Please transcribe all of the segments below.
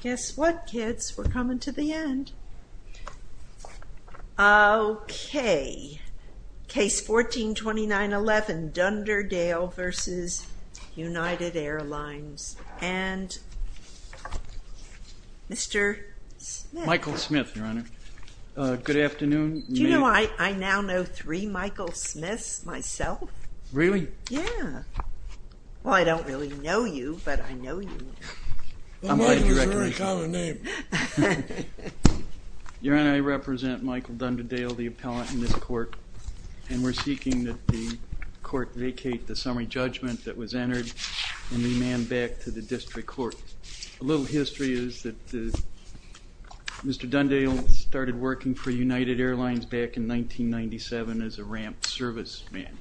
Guess what kids, we're coming to the end. Okay, Case 14-2911, Dunderdale v. United Airlines, and Mr. Smith. Michael Smith, Your Honor. Good afternoon. Do you know, I now know three Michael Smiths myself. Really? Yeah. Well, I don't really know you, but I know Michael is a very common name. Your Honor, I represent Michael Dunderdale, the appellant in this court, and we're seeking that the court vacate the summary judgment that was entered and be manned back to the district court. A little history is that Mr. Dunderdale started working for United Airlines back in 1997 as a ramp service man.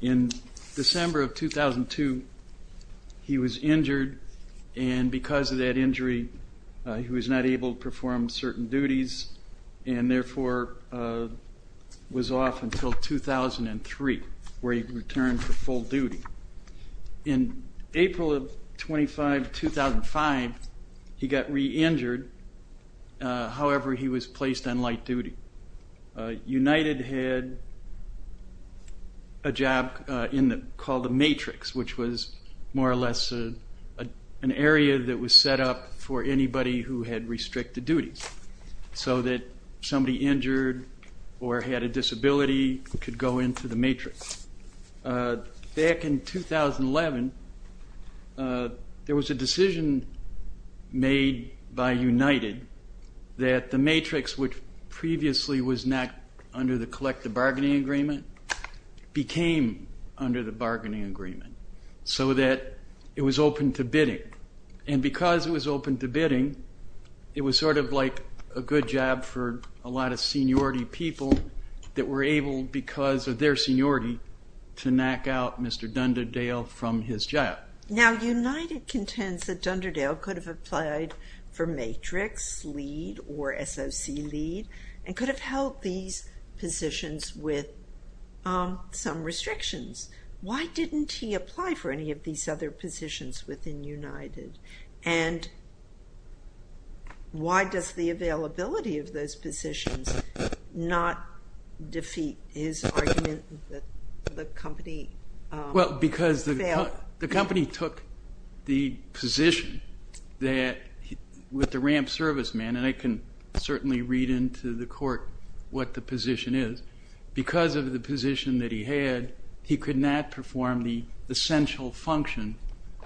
In December of 2002, he was injured and because of that injury, he was not able to perform certain duties and therefore was off until 2003, where he returned for full duty. In April of 2005, he got re-injured. However, he was placed on light duty. United had a job called a matrix, which was more or less an area that was set up for anybody who had restricted duties, so that somebody injured or had a disability could go into the matrix. Back in 2011, there was a decision made by United that the matrix, which previously was not under the collective bargaining agreement, became under the bargaining agreement so that it was open to bidding, and because it was open to bidding, it was sort of like a good job for a lot of seniority people that were able, because of their seniority, to knock out Mr. Dunderdale from his job. Now, United contends that Dunderdale could have applied for matrix lead or SOC lead and could have held these positions with some restrictions. Why didn't he apply for any of these other positions within United, and why does the availability of those positions not defeat his argument that the company failed? Well, because the company took the position that, with the ramp serviceman, and I can certainly read into the court what the position is, because of the position that he had, he could not perform the essential function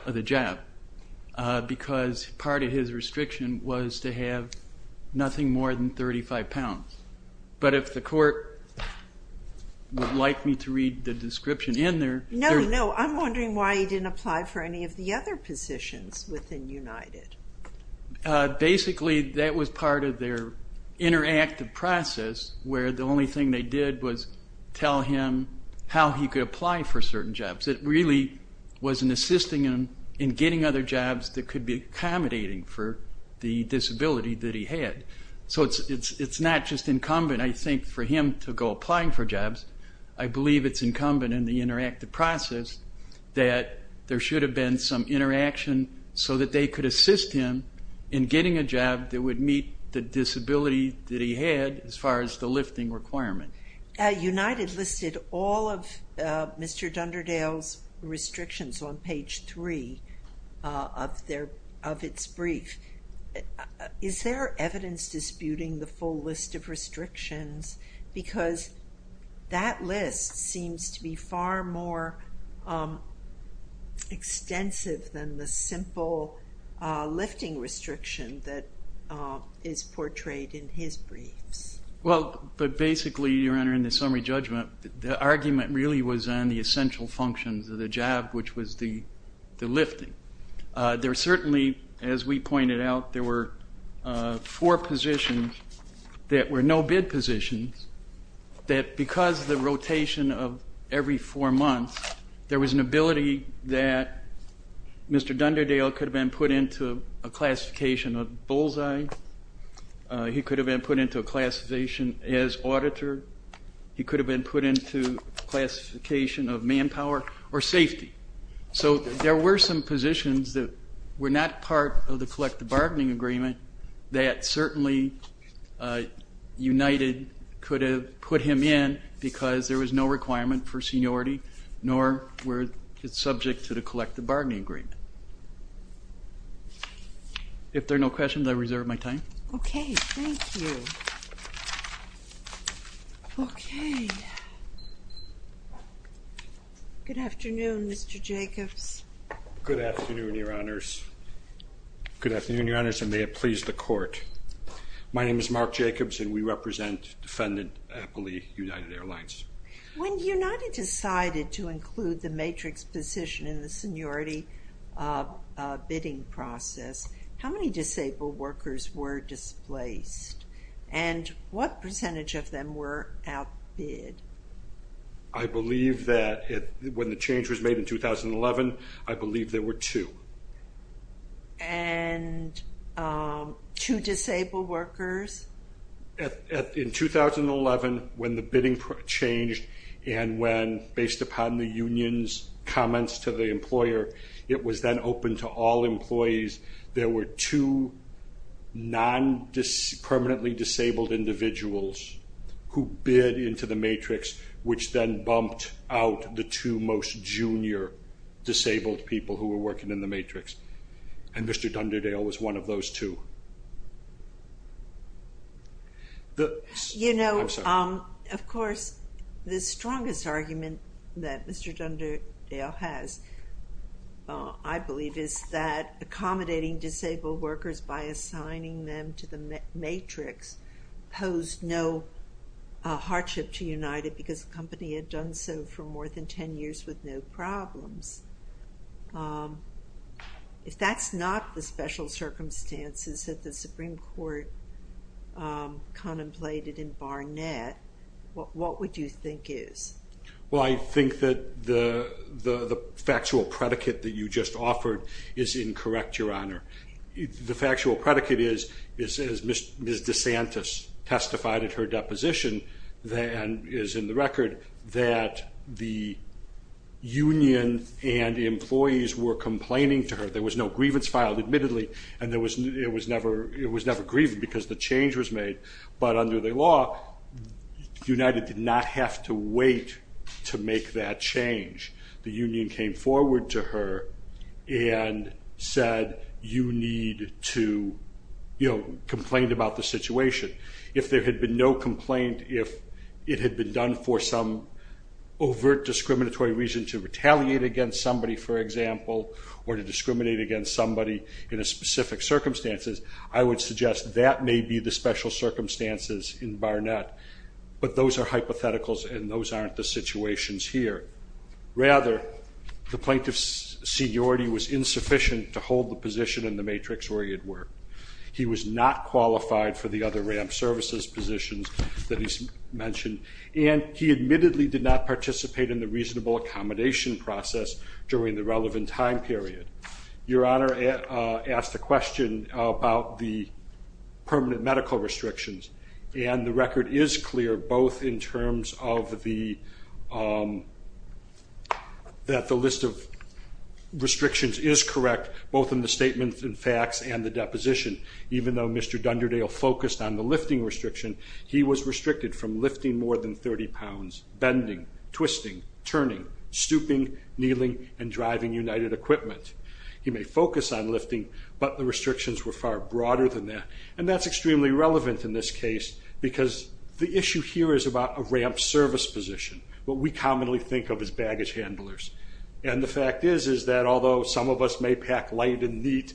of the restriction was to have nothing more than 35 pounds. But if the court would like me to read the description in there... No, no, I'm wondering why he didn't apply for any of the other positions within United. Basically, that was part of their interactive process, where the only thing they did was tell him how he could apply for certain jobs. It really was an assisting in getting other jobs that would meet the disability that he had. So it's not just incumbent, I think, for him to go applying for jobs. I believe it's incumbent in the interactive process that there should have been some interaction so that they could assist him in getting a job that would meet the disability that he had, as far as the lifting requirement. United listed all of Mr. Dunderdale's restrictions on page three of its brief. Is there evidence disputing the full list of restrictions? Because that list seems to be far more extensive than the simple lifting restriction that is portrayed in his briefs. Well, but basically, Your Honor, in the summary judgment, the argument really was on the essential functions of the job, which was the lifting. There certainly, as we pointed out, there were four positions that were no-bid positions, that because the rotation of every four months, there was an ability that Mr. Dunderdale could have been put into a classification of bullseye, he could have been put into a classification as auditor, he could have been put into classification of manpower, or safety. So there were some positions that were not part of the collective bargaining agreement that certainly United could have put him in because there was no requirement for seniority, nor were it subject to the collective bargaining agreement. If there are no questions, I reserve my time. Okay, thank you. Okay. Good afternoon, Mr. Jacobs. Good afternoon, Your Honors. Good afternoon, Your Honors, and may it please the court. My name is Mark Jacobs, and we represent Defendant Appley United Airlines. When United decided to include the matrix position in the seniority bidding process, how many disabled workers were displaced, and what percentage of them were outbid? I believe that when the change was made in 2011, I believe there were two. And two disabled workers? In 2011, when the bidding changed and when, based upon the union's comments to the employer, it was then all employees, there were two permanently disabled individuals who bid into the matrix, which then bumped out the two most junior disabled people who were working in the matrix, and Mr. Dunderdale was one of those two. You know, of strongest argument that Mr. Dunderdale has, I believe, is that accommodating disabled workers by assigning them to the matrix posed no hardship to United because the company had done so for more than ten years with no problems. If that's not the special circumstances that the Supreme Court contemplated in this. Well, I think that the factual predicate that you just offered is incorrect, Your Honor. The factual predicate is, as Ms. DeSantis testified at her deposition, and is in the record, that the union and employees were complaining to her. There was no grievance filed, admittedly, and it was never grieved because the change was made. But under the law, United did not have to wait to make that change. The union came forward to her and said, you need to complain about the situation. If there had been no complaint, if it had been done for some overt discriminatory reason to retaliate against somebody, for example, or to discriminate against somebody in a specific circumstances, I would suggest that may be the special circumstances in Barnett. But those are hypotheticals and those aren't the situations here. Rather, the plaintiff's seniority was insufficient to hold the position in the matrix where he had worked. He was not qualified for the other RAMP services positions that he's mentioned, and he admittedly did not participate in the reasonable accommodation process during the relevant time period. Your Honor asked a question about the record is clear, both in terms of the, that the list of restrictions is correct, both in the statements and facts and the deposition. Even though Mr. Dunderdale focused on the lifting restriction, he was restricted from lifting more than 30 pounds, bending, twisting, turning, stooping, kneeling, and driving United equipment. He may focus on lifting, but the restrictions were far broader than that. And that's extremely relevant in this case, because the issue here is about a RAMP service position, what we commonly think of as baggage handlers. And the fact is, is that although some of us may pack light and neat,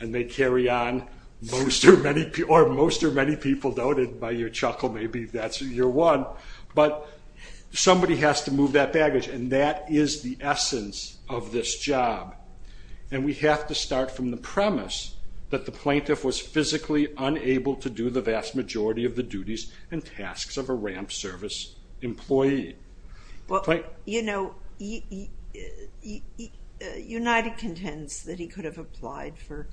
and they carry on, most or many people don't, and by your chuckle maybe that's your one, but somebody has to move that baggage, and that is the essence of this job. And we have to start from the premise that the plaintiff was physically unable to do the vast majority of the duties and tasks of a RAMP service employee. Well, you know, United contends that he could have applied for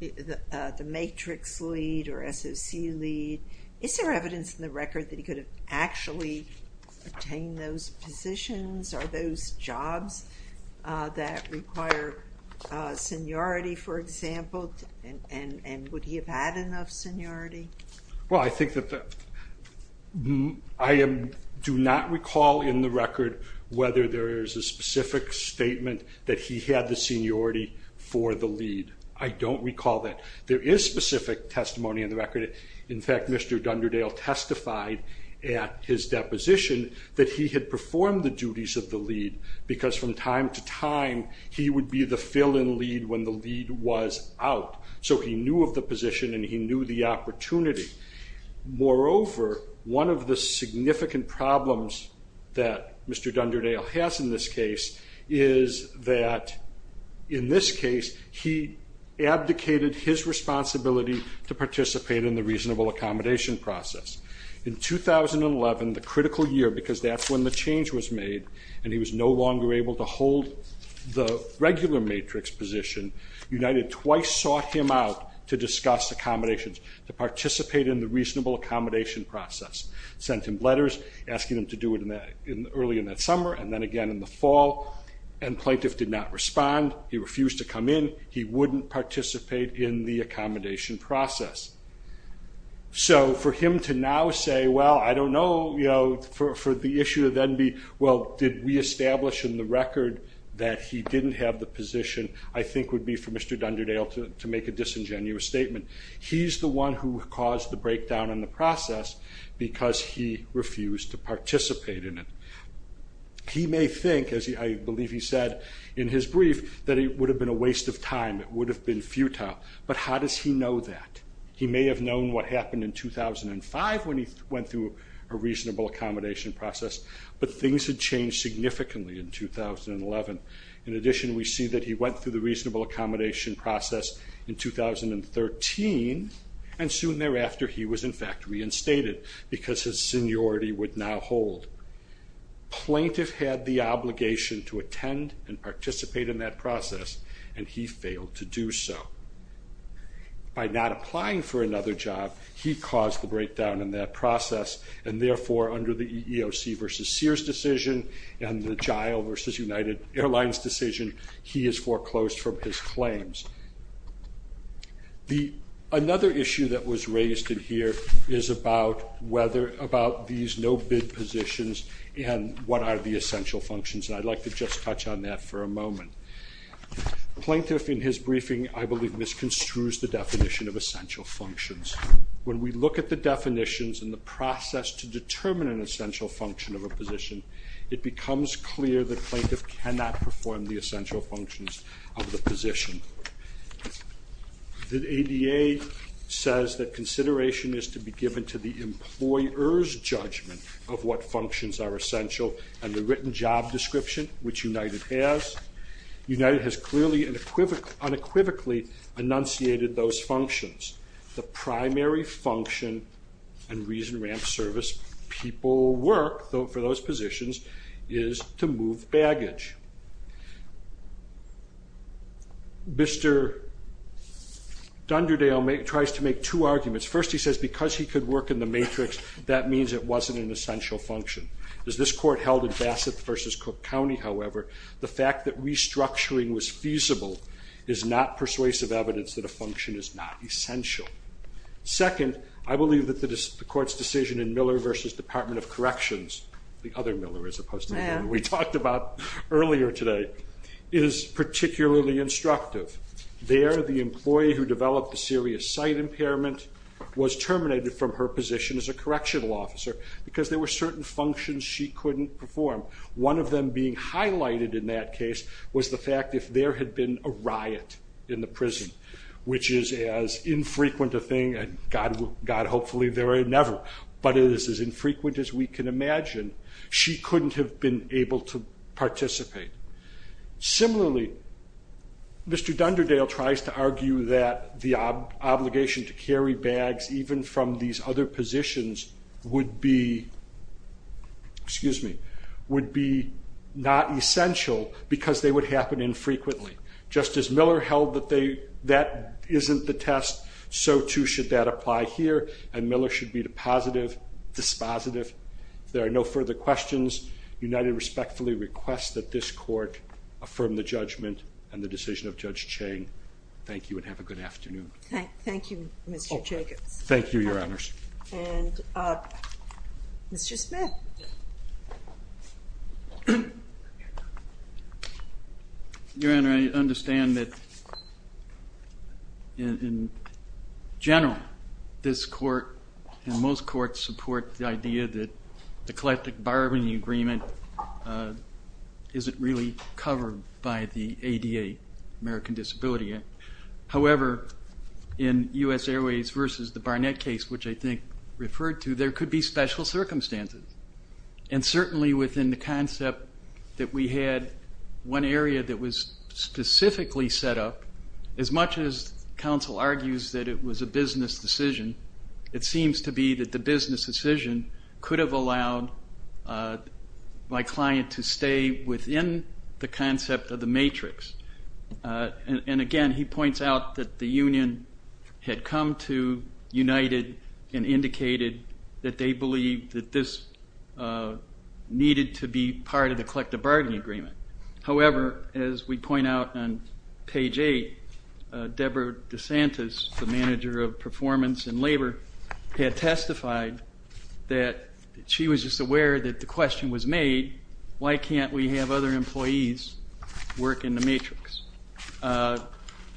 the matrix lead or SOC lead. Is there evidence in the record that he could have actually attained those positions or those jobs that require seniority, for example, and would he have had enough seniority? Well, I think that, I do not recall in the record whether there is a specific statement that he had the seniority for the lead. I don't recall that. There is specific testimony in the record. In fact, Mr. Dunderdale testified at his deposition that he had performed the duties of the lead because from time to time he would be the fill-in lead when the lead was out. So he knew of the position and he knew the opportunity. Moreover, one of the significant problems that Mr. Dunderdale has in this case is that, in this case, he abdicated his responsibility to participate in the reasonable accommodation process. In 2011, the critical year, because that's when the change was made and he was no longer able to hold the regular matrix position, United twice sought him out to discuss accommodations, to participate in the reasonable accommodation process. Sent him letters asking him to do it early in that summer and then again in the fall and plaintiff did not respond. He refused to come in. He wouldn't participate in the accommodation process. So for him to now say, well, I don't know, you know, for the issue to then be, well, did we establish in the record that he didn't have the position, I think would be for Mr. Dunderdale to make a disingenuous statement. He's the one who caused the breakdown in the process because he refused to participate in it. He may think, as I believe he said in his brief, that it would have been a waste of time. It would have been futile, but how does he know that? He may have known what happened in 2005 when he went through a reasonable accommodation process, but things had changed significantly in 2011. In addition, we see that he went through the reasonable accommodation process in 2013 and soon thereafter he was, in fact, reinstated because his seniority would now hold. Plaintiff had the obligation to attend and participate in that process and he failed to do so. By not applying for another job, he caused the breakdown in that process and therefore under the EEOC versus Sears decision and the JILE versus United Airlines decision, he is about whether about these no-bid positions and what are the essential functions. I'd like to just touch on that for a moment. Plaintiff in his briefing, I believe, misconstrues the definition of essential functions. When we look at the definitions and the process to determine an essential function of a position, it becomes clear that plaintiff cannot perform the essential functions of the employer's judgment of what functions are essential and the written job description, which United has. United has clearly unequivocally enunciated those functions. The primary function and reason ramp service people work for those positions is to move baggage. Mr. Dunderdale tries to make two arguments. First, he says because he could work in the matrix, that means it wasn't an essential function. As this court held in Bassett versus Cook County, however, the fact that restructuring was feasible is not persuasive evidence that a function is not essential. Second, I believe that the court's decision in Miller versus Department of Corrections, the other Miller as opposed to the one we talked about earlier today, is particularly instructive. There, the employee who developed a serious sight impairment was terminated from her position as a correctional officer because there were certain functions she couldn't perform. One of them being highlighted in that case was the fact if there had been a riot in the prison, which is as infrequent a thing, God hopefully there are never, but it is as infrequent as we can imagine, she couldn't have been able to participate. Similarly, Mr. Dunderdale tries to argue that the obligation to carry bags, even from these other positions, would be not essential because they would happen infrequently. Just as Miller held that that isn't the test, so too should that apply here, and Miller should be the positive, dispositive. If there are any questions, I'll let the court affirm the judgment and the decision of Judge Cheng. Thank you and have a good afternoon. Thank you, Mr. Jacobs. Thank you, Your Honors. And Mr. Smith. Your Honor, I understand that in general, this court and most courts support the idea that the collective bargaining agreement isn't really covered by the ADA, American Disability Act. However, in U.S. Airways versus the Barnett case, which I think referred to, there could be special circumstances, and certainly within the concept that we had one area that was specifically set up, as much as counsel argues that it was a business decision, it seems to be that the business decision could have allowed my client to stay within the concept of the matrix. And again, he points out that the union had come to, united, and indicated that they believed that this needed to be part of the collective bargaining agreement. However, as we point out on labor, had testified that she was just aware that the question was made, why can't we have other employees work in the matrix?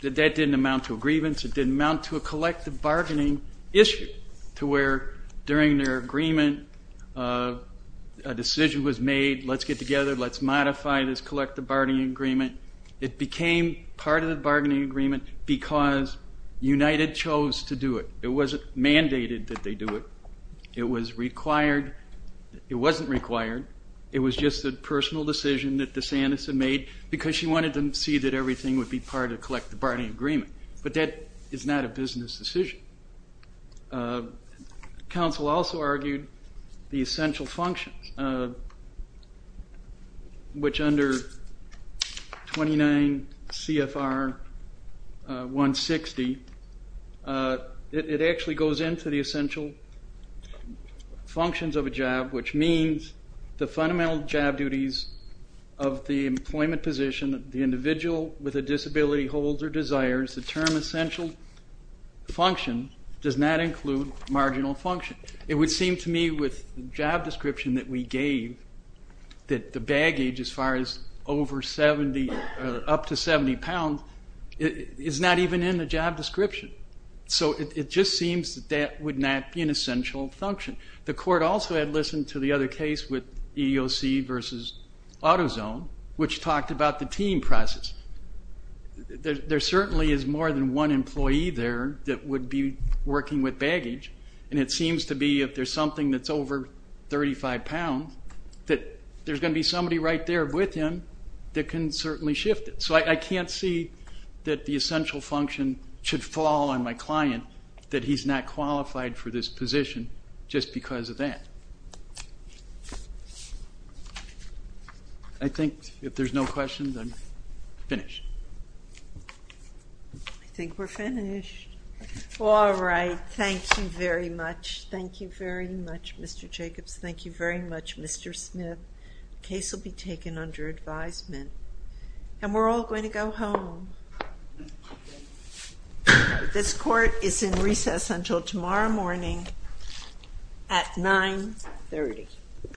That didn't amount to a grievance, it didn't amount to a collective bargaining issue, to where during their agreement, a decision was made, let's get together, let's modify this collective bargaining agreement. It became part of the bargaining agreement because united chose to do it. It wasn't mandated that they do it. It was required, it wasn't required, it was just a personal decision that DeSantis had made, because she wanted them to see that everything would be part of collective bargaining agreement. But that is not a business decision. Counsel also argued the essential functions, which under 29 CFR 160, it actually goes into the essential functions of a job, which means the fundamental job duties of the employment position of the individual with a disability, holds or desires, the term essential function does not include marginal function. It would seem to me with the job description that we gave, that the baggage as far as over 70 or up to 70 pounds is not even in the job description. So it just seems that that would not be an essential function. The court also had listened to the other case with EEOC versus AutoZone, which talked about the team process. There certainly is more than one employee there that would be working with baggage and it seems to be if there's something that's over 35 pounds, that there's going to be somebody right there with him that can certainly shift it. So I can't see that the essential function should fall on my client, that he's not qualified for this position just because of that. I think if there's no questions I'm finished. I think we're finished. All right, thank you very much. Thank you very much, Mr. Jacobs. Thank you very much, Mr. Smith. The case will be taken under advisement and we're all going to go home. This court is in recess until tomorrow morning at 930.